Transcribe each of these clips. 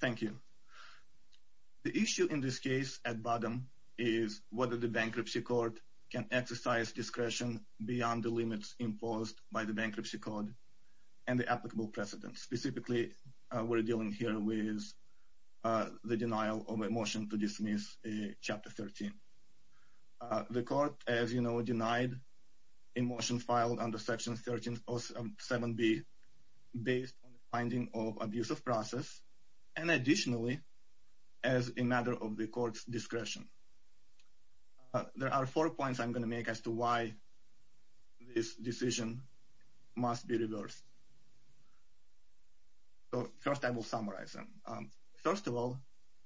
Thank you. The issue in this case at bottom is whether the Bankruptcy Court can exercise discretion beyond the limits imposed by the Bankruptcy Code and the applicable precedent. Specifically, we're dealing here with the denial of a motion to dismiss Chapter 13. The court, as you know, denied a motion filed under Section 7b based on the finding of abuse of process, and additionally, as a matter of the court's discretion. There are four points I'm going to make as to why this decision must be reversed. First, I will summarize them. First of all,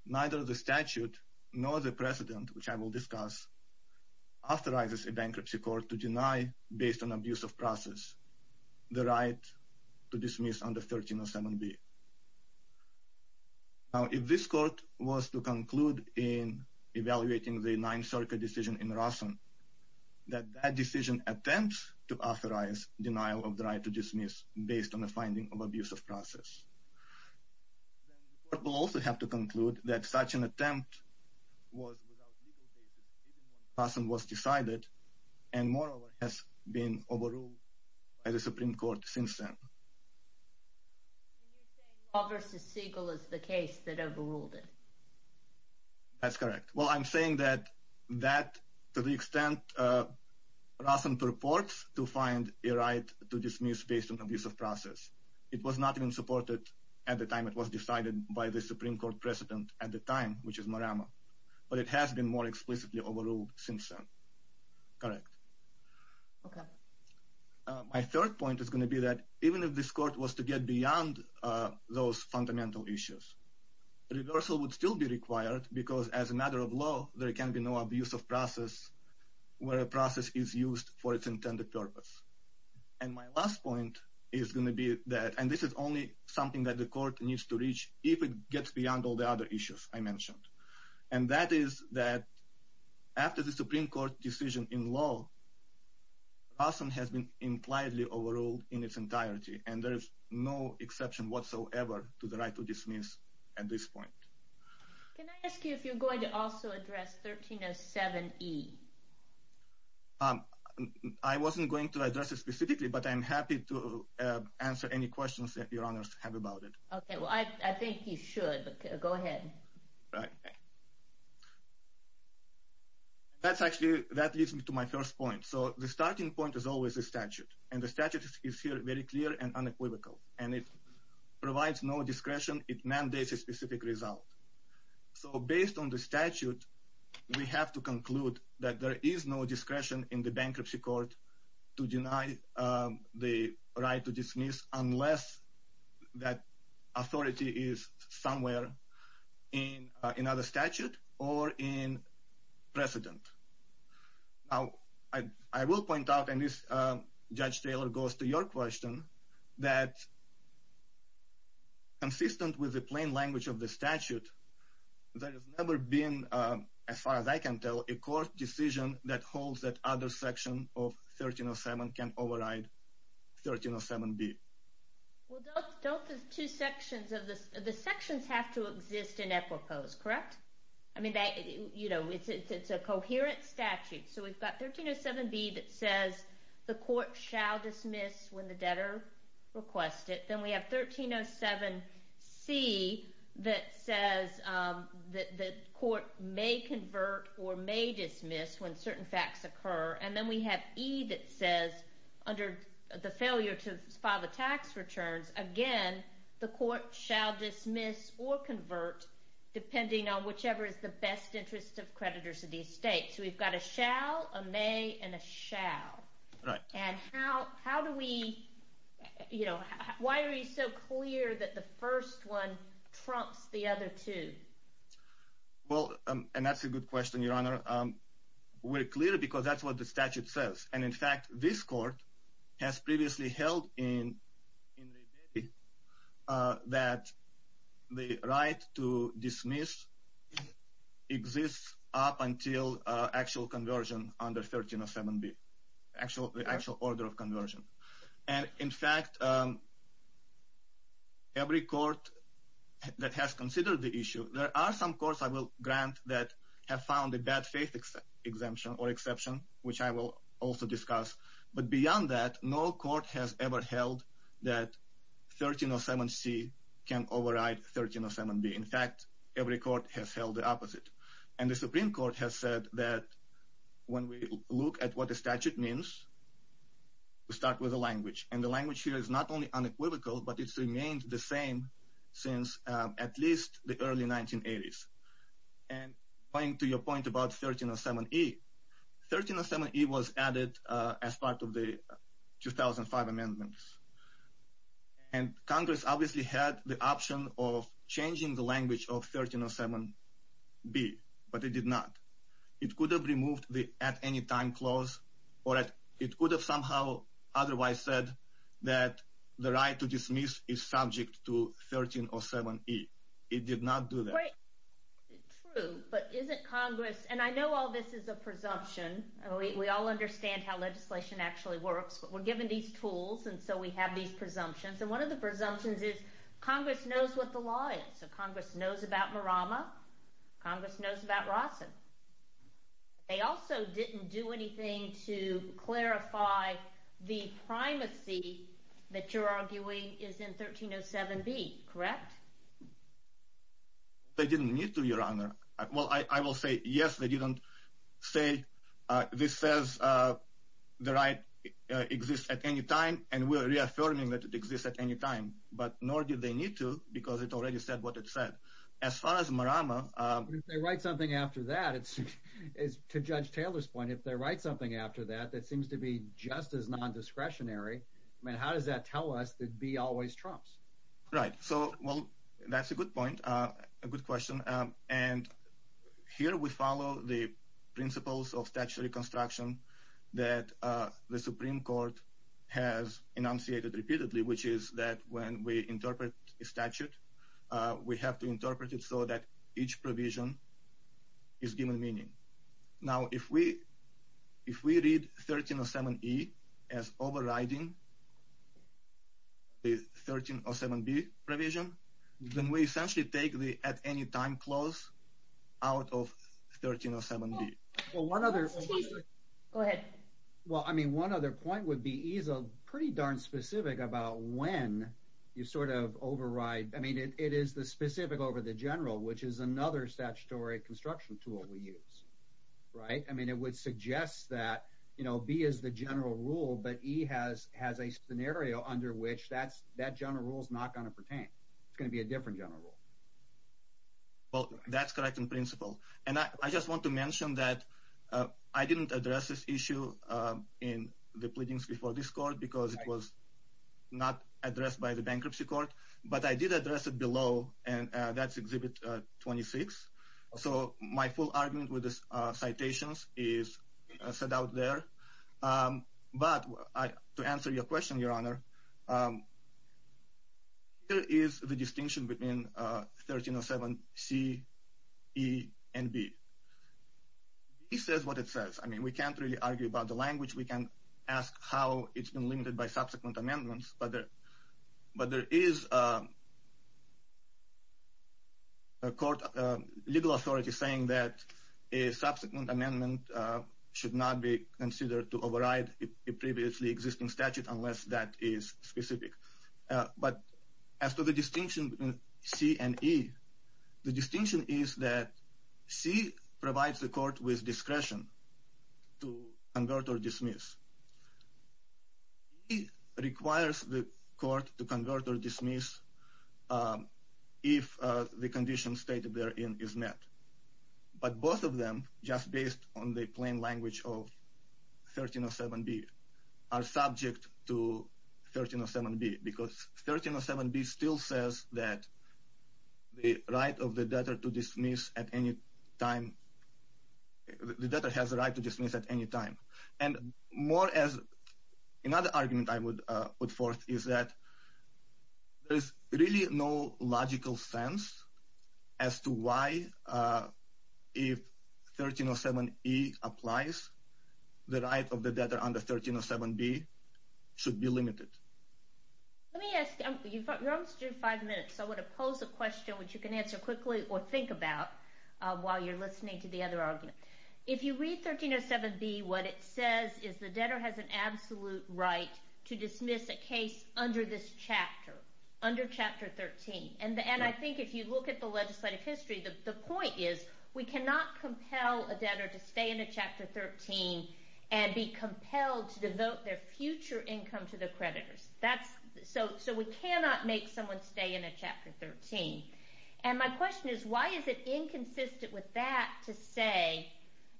neither the statute nor the precedent, which I will discuss, authorizes a Bankruptcy Court to deny, based on abuse of process, the right to dismiss under 1307b. Now, if this court was to conclude in evaluating the Ninth Circuit decision in Rosson, that that decision attempts to authorize denial of the right to dismiss based on the finding of abuse of process. The court will also have to conclude that such an action, moreover, has been overruled by the Supreme Court since then. You're saying Law v. Siegel is the case that overruled it? That's correct. Well, I'm saying that that, to the extent Rosson purports to find a right to dismiss based on abuse of process, it was not even supported at the time it was decided by the Supreme Court precedent at the time, which is Marama, but it has been more explicitly overruled since then. Correct. My third point is going to be that, even if this court was to get beyond those fundamental issues, reversal would still be required because, as a matter of law, there can be no abuse of process where a process is used for its intended purpose. And my last point is going to be that, and this is only something that the court needs to reach if it gets beyond all the other issues I mentioned, and that is that after the Supreme Court decision in law, Rosson has been impliedly overruled in its entirety, and there is no exception whatsoever to the right to dismiss at this point. Can I ask you if you're going to also address 1307E? I wasn't going to address it specifically, but I'm happy to answer any questions that your honors have about it. Okay, well I think you should. Go ahead. Right. That's actually, that leads me to my first point. So the starting point is always a statute, and the statute is here very clear and unequivocal, and it provides no discretion. It mandates a specific result. So based on the statute, we have to conclude that there is no bankruptcy court to deny the right to dismiss unless that authority is somewhere in another statute or in precedent. Now, I will point out, and this Judge Taylor goes to your question, that consistent with the plain language of the statute, there has never been, as far as I can tell, a court decision that calls that other section of 1307 can override 1307B. Well, don't the two sections, the sections have to exist in equipose, correct? I mean, you know, it's a coherent statute. So we've got 1307B that says the court shall dismiss when the debtor requests it. Then we have 1307C that says that the court may convert or may dismiss when certain facts occur, and then we have E that says, under the failure to file the tax returns, again, the court shall dismiss or convert depending on whichever is the best interest of creditors of these states. So we've got a shall, a may, and a shall. And how do we, you know, why are you so clear that the first one trumps the other two? Well, and that's a good question, Your Honor. We're clear because that's what the statute says. And in fact, this court has previously held in that the right to dismiss exists up until actual conversion under 1307B. Actual, the actual order of conversion. And in fact, every court that has considered the issue, there are some courts I will grant that have found a bad faith exemption or exception, which I will also discuss. But beyond that, no court has ever held that 1307C can override 1307B. In fact, every court has held the opposite. And the Supreme Court has said that when we look at what the statute means, we start with the language. And the language here is not only unequivocal, but it's remained the same since at least the early 1980s. And going to your point about 1307E, 1307E was added as part of the 2005 amendments. And Congress obviously had the option of changing the language of the statute. Or it could have somehow otherwise said that the right to dismiss is subject to 1307E. It did not do that. Right. True. But isn't Congress, and I know all this is a presumption. We all understand how legislation actually works. But we're given these tools, and so we have these presumptions. And one of the presumptions is Congress knows what the law is. So Congress knows about Marama. Congress knows about Rawson. They also didn't do anything to clarify the primacy that you're arguing is in 1307B, correct? They didn't need to, Your Honor. Well, I will say, yes, they didn't say, this says the right exists at any time, and we're reaffirming that it exists at any time. But nor did they need to, because it already said what it said. As far as Marama... But if they write something after that, it's, to Judge Taylor's point, if they write something after that, that seems to be just as non-discretionary, I mean, how does that tell us that B always trumps? Right. So, well, that's a good point. A good question. And here we follow the principles of statutory construction that the Supreme Court has enunciated repeatedly, which is that when we interpret a statute, we have to assume it's given meaning. Now, if we, if we read 1307E as overriding the 1307B provision, then we essentially take the at any time clause out of 1307B. Well, one other... Go ahead. Well, I mean, one other point would be E's pretty darn specific about when you sort of override. I mean, it is the specific over the general, which is another statutory construction tool we use, right? I mean, it would suggest that, you know, B is the general rule, but E has a scenario under which that general rule is not going to pertain. It's going to be a different general rule. Well, that's correct in principle. And I just want to mention that I didn't address this issue in the pleadings before this court because it was not addressed by the bankruptcy court. But I did address it below, and that's exhibit 26. So my full argument with the citations is set out there. But to answer your question, Your Honor, here is the distinction between 1307C, E, and B. E says what it says. I mean, we can't really argue about the language. We can ask how it's been limited by subsequent amendments. But there is a court legal authority saying that a subsequent amendment should not be considered to override a previously existing statute unless that is specific. But as to the distinction between C and E, the distinction is that C provides the court with discretion to convert or dismiss. E requires the court to convert or dismiss if the condition stated therein is met. But both of them, just based on the plain language of 1307B, are subject to 1307B because 1307B still says that the right of the debtor to dismiss at any time. The debtor has the right to dismiss at any time. And more as another argument I would put forth is that there's really no logical sense as to why, if 1307E applies, the right of the debtor under 1307B should be limited. Let me ask, you're almost due in five minutes, so I want to pose a question which you can answer quickly or think about while you're listening to the other argument. If you read 1307B, what it says is the debtor has an absolute right to dismiss a case under this chapter, under Chapter 13. And I think if you look at the legislative history, the point is we cannot compel a debtor to stay in a Chapter 13 and be compelled to devote their future income to the creditors. So we cannot make someone stay in a Chapter 13. And my question is why is it inconsistent with that to say,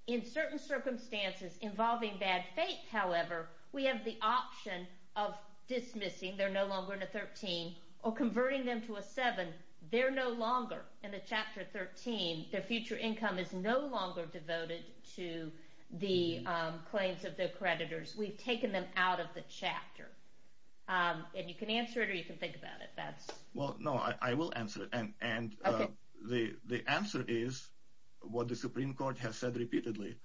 in certain circumstances involving bad faith, however, we have the option of dismissing, they're no longer in a 13, or converting them to a 7, they're no longer in a Chapter 13, their future income is no longer devoted to the claims of the creditors. We've taken them out of the chapter. And you can answer it or you can think about it. Well, no, I will answer it. And the answer is what the Supreme Court has said repeatedly,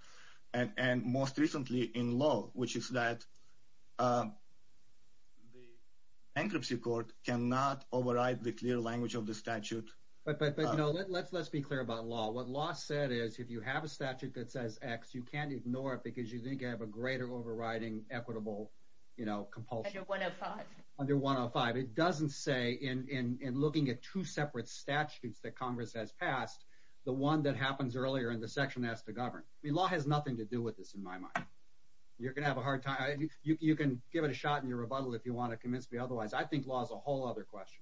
and most recently in law, which is that the Ancropsy Court cannot override the clear language of the statute. But, you know, let's be clear about law. What law said is if you have a statute that says X, you can't ignore it if you think you have a greater overriding equitable, you know, compulsion. Under 105. Under 105. It doesn't say in looking at two separate statutes that Congress has passed, the one that happens earlier in the section has to govern. I mean, law has nothing to do with this in my mind. You're gonna have a hard time. You can give it a shot in your rebuttal if you want to convince me otherwise. I think law is a whole other question.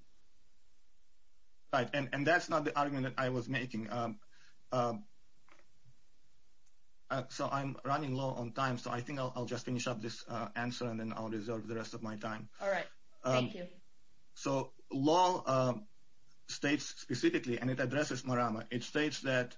And that's not the argument that I was making. So I'm running low on time, so I think I'll just finish up this answer and then I'll reserve the rest of my time. All right. So law states specifically, and it addresses Marama, it states that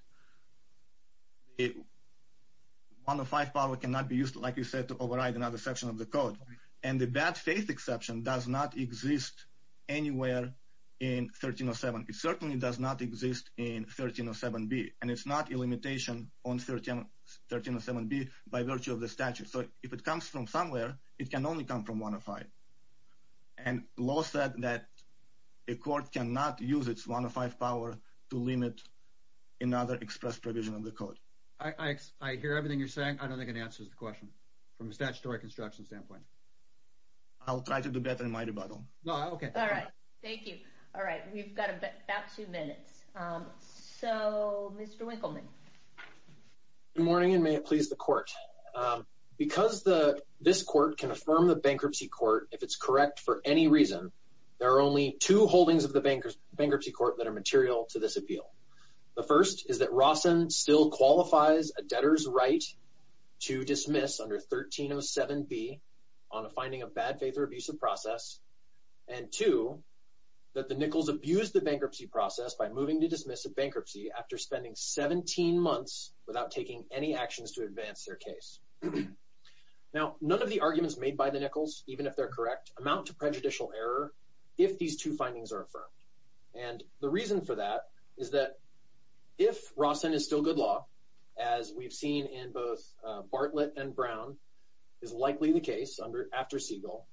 105 power cannot be used, like you said, to override another exception of the code. And the bad faith exception does not exist anywhere in 1307. It certainly does not exist in 1307B. And it's not a limitation on 1307B by virtue of the statute. So if it comes from somewhere, it can only come from 105. And law said that a court cannot use its 105 power to limit another express provision of the code. I hear everything you're saying. I don't think it answers the question. From a statutory construction standpoint. I'll try to do better in my rebuttal. No, okay. All right. Thank you. All right. We've got about two minutes. So Mr. Winkleman. Good morning, and may it please the court. Because this court can affirm the bankruptcy court, if it's correct for any reason, there are only two holdings of the bankruptcy court that are material to this appeal. The first is that Rawson still qualifies a debtor's right to dismiss under 1307B on a finding of bad faith or abusive process. And two, that the Nichols abused the bankruptcy process by moving to dismiss a bankruptcy after spending 17 months without taking any actions to advance their case. Now, none of the arguments made by the Nichols, even if they're correct, amount to prejudicial error if these two findings are affirmed. And the reason for that is that if Rawson is still good law, as we've seen in both Bartlett and Brown, is likely the case under after Siegel.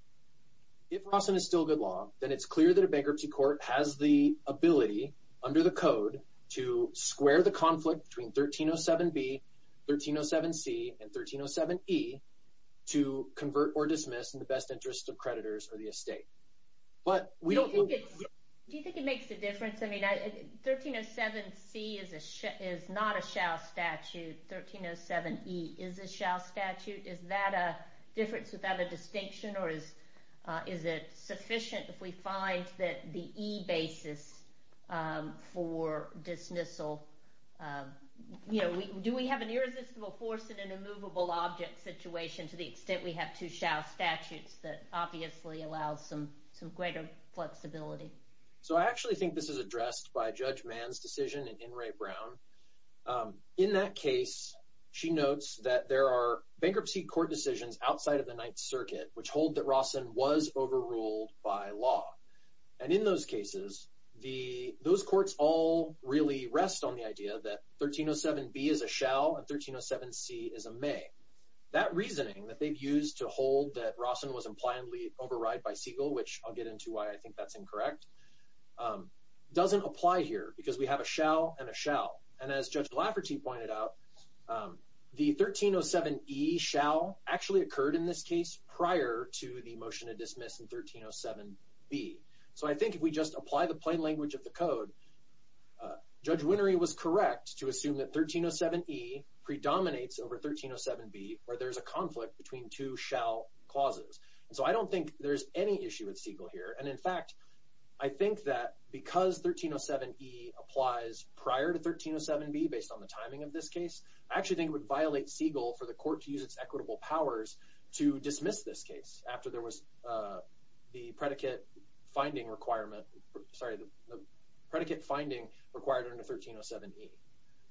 If Rawson is still good law, then it's clear that a bankruptcy court has the ability under the code to square the conflict between 1307B, 1307C, and 1307E to convert or dismiss in the best interest of the estate. Do you think it makes a difference? I mean, 1307C is not a shall statute. 1307E is a shall statute. Is that a difference without a distinction? Or is it sufficient if we find that the E basis for dismissal, you know, do we have an irresistible force in an immovable object situation to the greater flexibility? So I actually think this is addressed by Judge Mann's decision in Wray-Brown. In that case, she notes that there are bankruptcy court decisions outside of the Ninth Circuit which hold that Rawson was overruled by law. And in those cases, those courts all really rest on the idea that 1307B is a shall and 1307C is a may. That reasoning that they've used to hold that Siegel, which I'll get into why I think that's incorrect, doesn't apply here because we have a shall and a shall. And as Judge Lafferty pointed out, the 1307E shall actually occurred in this case prior to the motion to dismiss in 1307B. So I think if we just apply the plain language of the code, Judge Winery was correct to assume that 1307E predominates over 1307B where there's a issue with Siegel here. And in fact, I think that because 1307E applies prior to 1307B based on the timing of this case, I actually think it would violate Siegel for the court to use its equitable powers to dismiss this case after there was the predicate finding requirement, sorry, the predicate finding required under 1307E.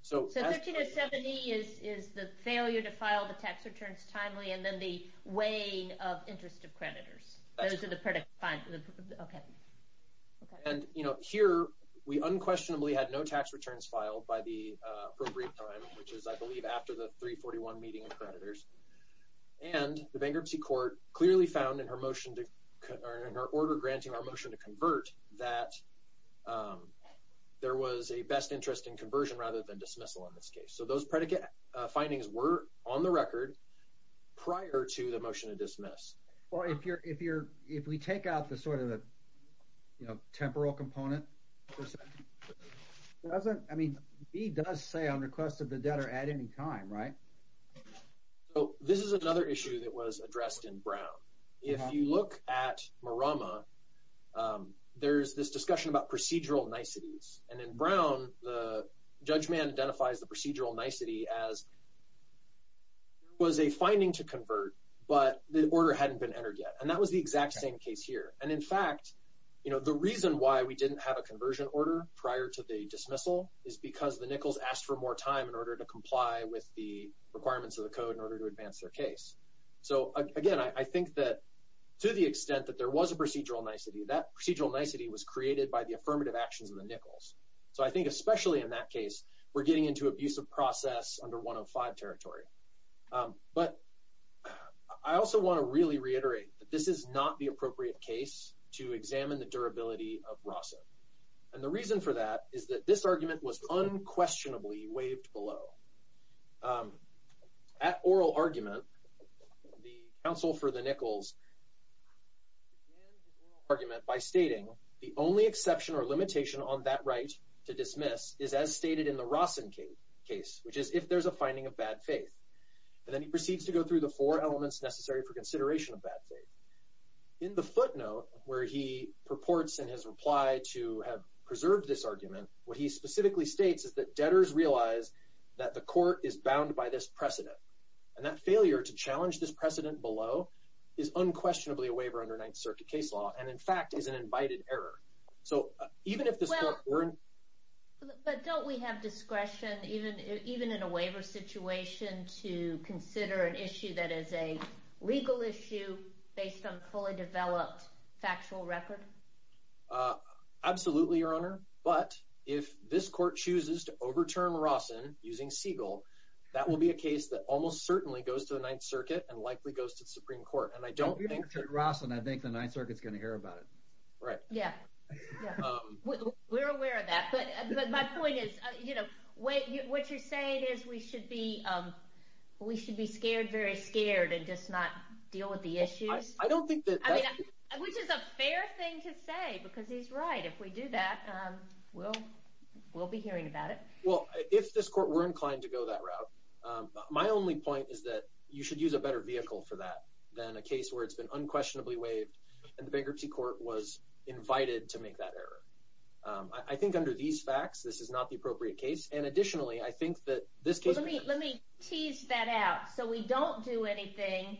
So 1307E is the failure to file the tax returns timely and then the weighing of interest of creditors. Those are the predicate findings. Okay. And you know, here we unquestionably had no tax returns filed by the appropriate time, which is I believe after the 341 meeting of creditors. And the bankruptcy court clearly found in her motion to, in her order granting our motion to convert, that there was a best interest in conversion rather than dismissal in this case. So those predicate findings were on the record prior to the motion to dismiss. Well, if you're, if you're, if we take out the sort of the, you know, temporal component, doesn't, I mean, he does say on request of the debtor at any time, right? Oh, this is another issue that was addressed in Brown. If you look at Marama, there's this discussion about procedural niceties. And in Brown, the judgment identifies the procedural nicety as was a finding to convert, but the order hadn't been entered yet. And that was the exact same case here. And in fact, you know, the reason why we didn't have a conversion order prior to the dismissal is because the Nichols asked for more time in order to comply with the requirements of the code in order to advance their case. So again, I think that to the extent that there was a procedural nicety, that procedural nicety was created by the affirmative actions in the Nichols. So I think especially in that case, we're getting into abusive process under 105 territory. But I also want to really reiterate that this is not the appropriate case to examine the durability of ROSN. And the reason for that is that this argument was unquestionably waived below. At oral argument, the counsel for the Nichols argument by stating the only exception or limitation on that right to dismiss is as stated in the ROSN case, which is if there's a finding of bad faith. And then he proceeds to go through the four elements necessary for consideration of bad faith. In the footnote where he purports in his reply to have preserved this argument, what he specifically states is that debtors realize that the court is bound by this precedent. And that failure to challenge this precedent below is unquestionably a waiver under Ninth Circuit case law, and in fact, is an invited error. So even if this court weren't... But don't we have discretion, even in a waiver situation, to consider an issue that is a legal issue based on a fully developed factual record? Absolutely, Your Honor. But if this court chooses to overturn ROSN using Siegel, that will be a case that almost certainly goes to the Ninth Circuit and likely goes to the Supreme Court. And I don't think that ROSN, I think the Ninth Circuit's going to hear about it. Right. Yeah, we're aware of that. But my point is, you know, what you're saying is we should be scared, very scared, and just not deal with the issues? I don't think that... Which is a fair thing to say, because he's right. If we do that, we'll be hearing about it. Well, if this court were a case where it's been unquestionably waived and the bankruptcy court was invited to make that error. I think under these facts, this is not the appropriate case. And additionally, I think that this case... Let me tease that out. So we don't do anything.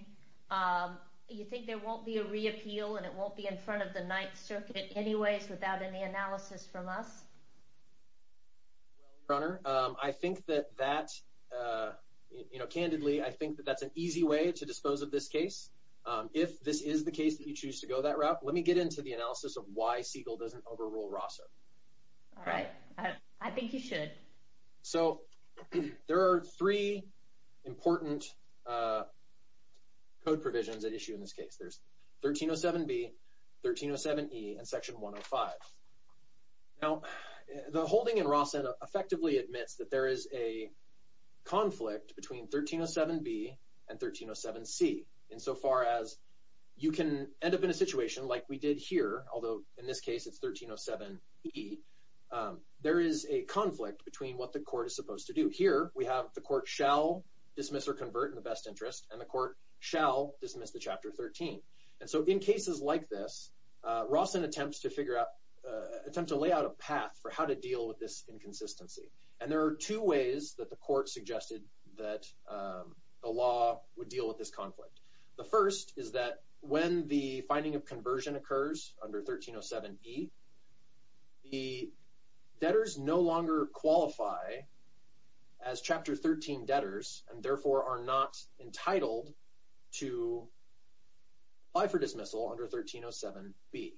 You think there won't be a reappeal and it won't be in front of the Ninth Circuit anyways without any analysis from us? Your Honor, I think that you know, candidly, I think that that's an easy way to dispose of this case. If this is the case that you choose to go that route, let me get into the analysis of why Siegel doesn't overrule ROSN. All right. I think you should. So there are three important code provisions at issue in this case. There's 1307B, 1307E, and conflict between 1307B and 1307C. Insofar as you can end up in a situation like we did here, although in this case it's 1307E, there is a conflict between what the court is supposed to do. Here, we have the court shall dismiss or convert in the best interest, and the court shall dismiss the Chapter 13. And so in cases like this, ROSN attempts to figure out... attempts to lay out a path for how to the court suggested that the law would deal with this conflict. The first is that when the finding of conversion occurs under 1307E, the debtors no longer qualify as Chapter 13 debtors and therefore are not entitled to apply for dismissal under 1307B.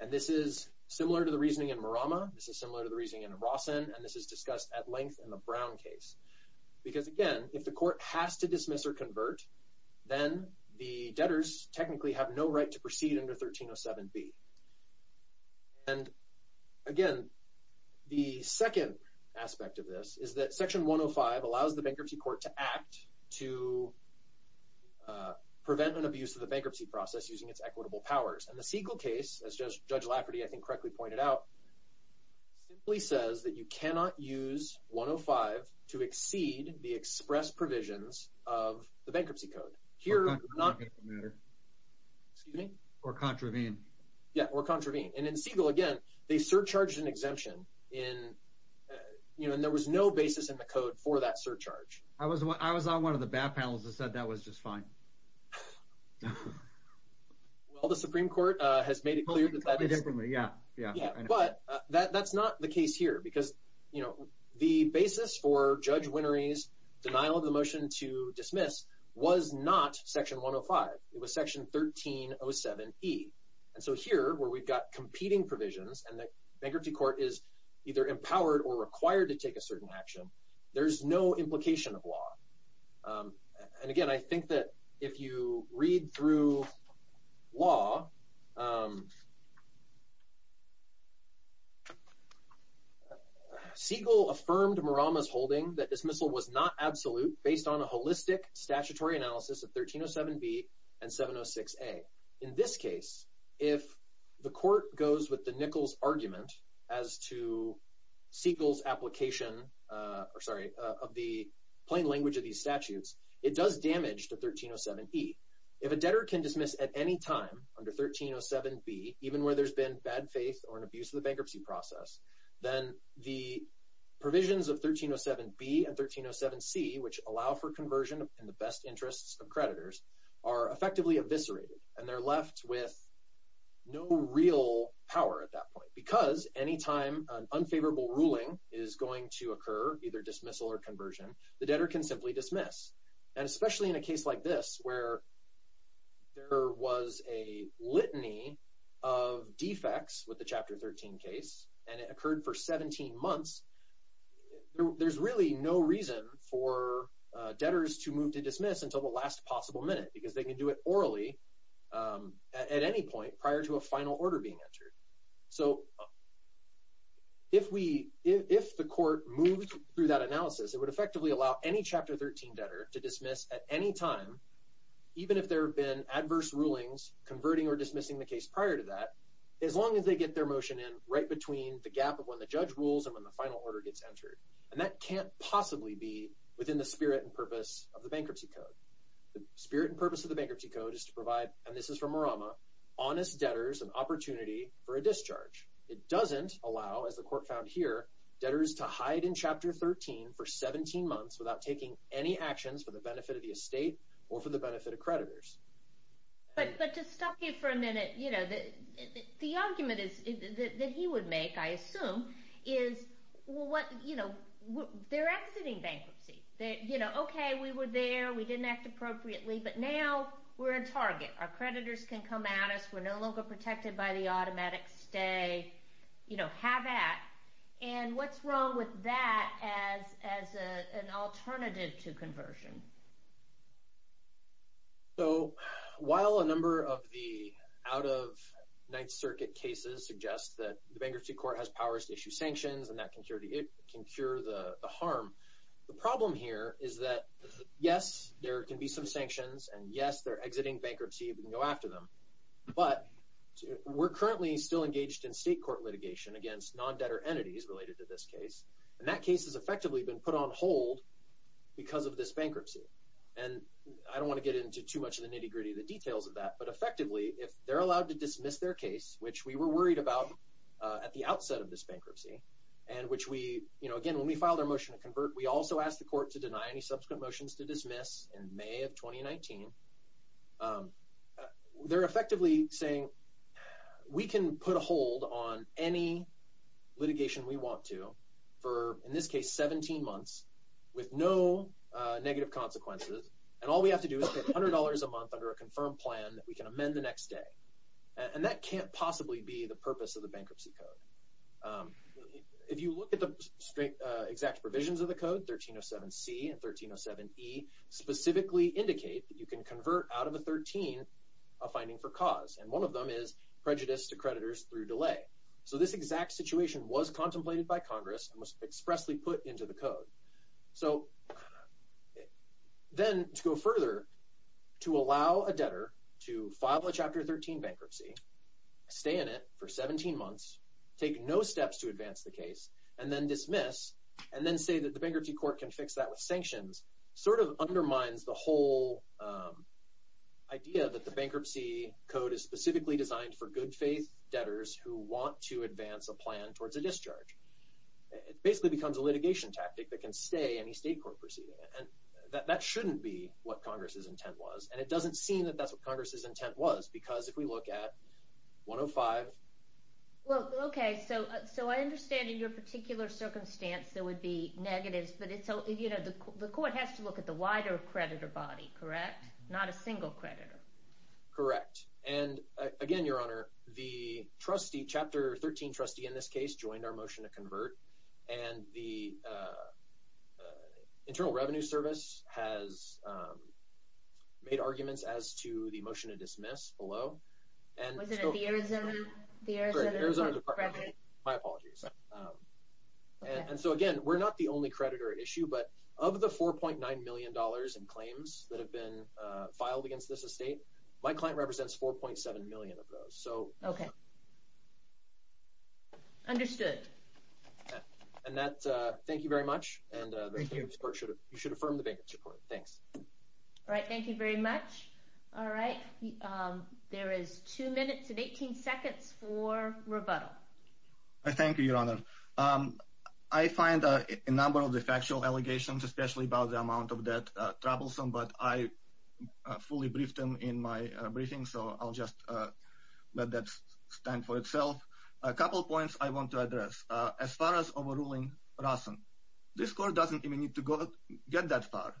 And this is similar to the reasoning in Murama, this is similar to the reasoning in ROSN, and this is discussed at length in the Brown case. Because again, if the court has to dismiss or convert, then the debtors technically have no right to proceed under 1307B. And again, the second aspect of this is that Section 105 allows the bankruptcy court to act to prevent an abuse of the bankruptcy process using its equitable powers. And the Siegel case, as Judge Lafferty, I think, correctly pointed out, simply says that you exceed the express provisions of the bankruptcy code. Here, excuse me, or contravene. Yeah, or contravene. And in Siegel, again, they surcharged an exemption in, you know, and there was no basis in the code for that surcharge. I was one I was on one of the bad panels that said that was just fine. Well, the Supreme Court has made it clear that that is... Yeah, yeah. But that's not the because, you know, the basis for Judge Winnery's denial of the motion to dismiss was not Section 105. It was Section 1307E. And so here, where we've got competing provisions and the bankruptcy court is either empowered or required to take a certain action, there's no implication of law. And again, I think that if you read through law, Siegel affirmed Murama's holding that dismissal was not absolute based on a holistic statutory analysis of 1307B and 706A. In this case, if the court goes with the Nichols argument as to Siegel's application, or sorry, of the plain language of these statutes, it does damage to 1307E. If a debtor can dismiss at any time under 1307B, even where there's been bad faith or an abuse of the bankruptcy process, then the provisions of 1307B and 1307C, which allow for conversion in the best interests of creditors, are effectively eviscerated. And they're left with no real power at that point. Because any time an unfavorable ruling is going to occur, either dismissal or conversion, the debtor can simply dismiss. And especially in a case like this, where there was a litany of defects with the Chapter 13 case, and it occurred for 17 months, there's really no reason for debtors to move to dismiss until the last possible minute. Because they can do it orally at any point prior to a final order being entered. So if we, if the court moved through that analysis, it would effectively allow any Chapter 13 debtor to dismiss at any time, even if there have been adverse rulings converting or dismissing the case prior to that, as long as they get their motion in right between the gap of when the judge rules and when the final order gets entered. And that can't possibly be within the spirit and purpose of the Bankruptcy Code is to provide, and this is from Marama, honest debtors an opportunity for a discharge. It doesn't allow, as the court found here, debtors to hide in Chapter 13 for 17 months without taking any actions for the benefit of the estate or for the benefit of creditors. But to stop you for a minute, you know, the argument is that he would make, I assume, is what, you know, they're exiting bankruptcy. They, you know, okay, we were there, we didn't act appropriately, but now we're in target. Our creditors can come at us, we're no longer protected by the automatic stay, you know, have at. And what's wrong with that as an alternative to conversion? So while a number of the out-of-night-circuit cases suggest that the bankruptcy court has powers to issue sanctions and that can cure the harm, the problem here is that, yes, there can be some sanctions, and yes, they're exiting bankruptcy, we can go after them, but we're currently still engaged in state court litigation against non-debtor entities related to this case, and that case has effectively been put on hold because of this bankruptcy. And I don't want to get into too much of the nitty-gritty of the details of that, but effectively, if they're allowed to dismiss their case, which we were worried about at the outset of this bankruptcy, and which we, you know, again, when we filed our motion to convert, we also asked the court to deny any subsequent motions to dismiss in May of 2019. They're effectively saying, we can put a hold on any litigation we want to for, in this case, 17 months with no negative consequences, and all we have to do is pay $100 a month under a confirmed plan that we can amend the next day. And that can't possibly be the purpose of the bankruptcy code. If you look at the exact provisions of the code, 1307C and 1307E specifically indicate that you can convert out of a 13 a finding for cause, and one of them is prejudice to creditors through delay. So this exact situation was contemplated by Congress and was expressly put into the code. So then, to go further, to allow a debtor to file a Chapter 13 bankruptcy, stay in it for 17 months, take no steps to advance the case, and then dismiss, and then say that the bankruptcy court can fix that with sanctions, sort of undermines the whole idea that the bankruptcy code is specifically designed for good-faith debtors who want to advance a plan towards a discharge. It basically becomes a litigation tactic that can stay any state court proceeding, and that shouldn't be what Congress's intent was, and it doesn't seem that that's what Congress's intent was, because if we look at 105. Well, okay, so so I understand in your particular circumstance there would be negatives, but it's so, you know, the court has to look at the wider creditor body, correct? Not a single creditor. Correct, and again, Your Honor, the trustee, Chapter 13 trustee in this case, joined our motion to convert, and the Internal Revenue Service has made arguments as to the motion to dismiss below, and so again, we're not the only creditor issue, but of the 4.9 million dollars in claims that have been filed against this estate, my client represents 4.7 million of those, so. Okay, understood. And that, thank you very much, and you should affirm the bankruptcy court. Thanks. All right, thank you very much. All right, there is two minutes and 18 seconds for rebuttal. I thank you, Your Honor. I find a number of the factual allegations, especially about the amount of debt, troublesome, but I briefly briefed them in my briefing, so I'll just let that stand for itself. A couple points I want to address. As far as overruling Rason, this court doesn't even need to go, get that far.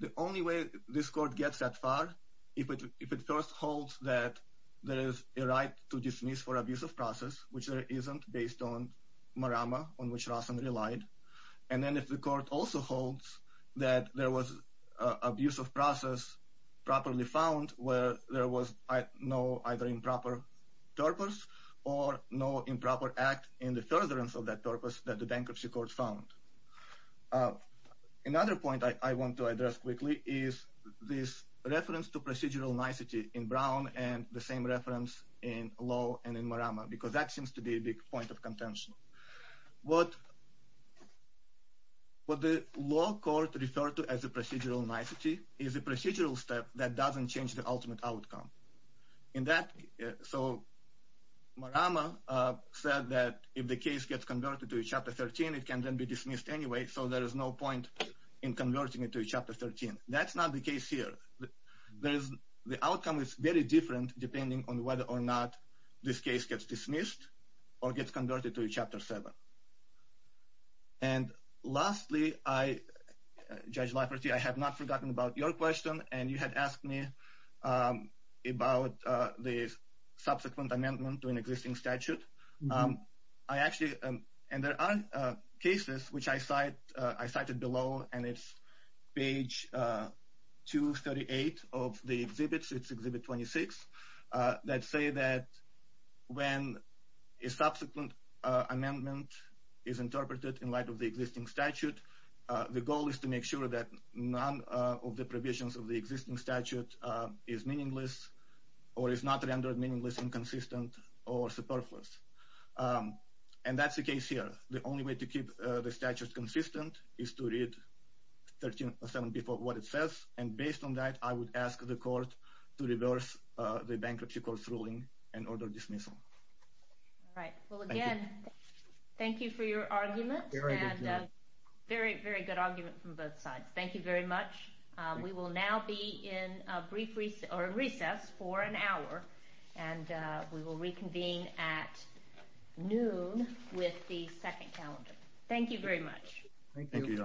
The only way this court gets that far, if it first holds that there is a right to dismiss for abuse of process, which there isn't, based on Marama, on which Rason relied, and then if the court also holds that there was abuse of process properly found, where there was no, either improper purpose, or no improper act in the furtherance of that purpose that the bankruptcy court found. Another point I want to address quickly is this reference to procedural nicety in Brown and the same reference in Lowe and in Marama, because that seems to be a big point of contention. What the law court referred to as a procedural nicety is a procedural step that doesn't change the ultimate outcome. So Marama said that if the case gets converted to Chapter 13, it can then be dismissed anyway, so there is no point in converting it to Chapter 13. That's not the case here. The outcome is very different depending on whether or not this case gets dismissed or gets converted to Chapter 7. And lastly, Judge Lafferty, I have not forgotten about your question, and you had asked me about the subsequent amendment to an existing statute. I actually, and there are cases which I cited below, and it's page 238 of the that say that when a subsequent amendment is interpreted in light of the existing statute, the goal is to make sure that none of the provisions of the existing statute is meaningless or is not rendered meaningless, inconsistent, or superfluous. And that's the case here. The only way to keep the statute consistent is to read 13 or 7 before what it says. And based on that, I would ask the Court to reverse the Bankruptcy Court's ruling and order dismissal. All right. Well, again, thank you for your argument. Very, very good argument from both sides. Thank you very much. We will now be in a brief recess, or recess, for an hour, and we will reconvene at noon with the second calendar. Thank you very much. Thank you, Your Honors.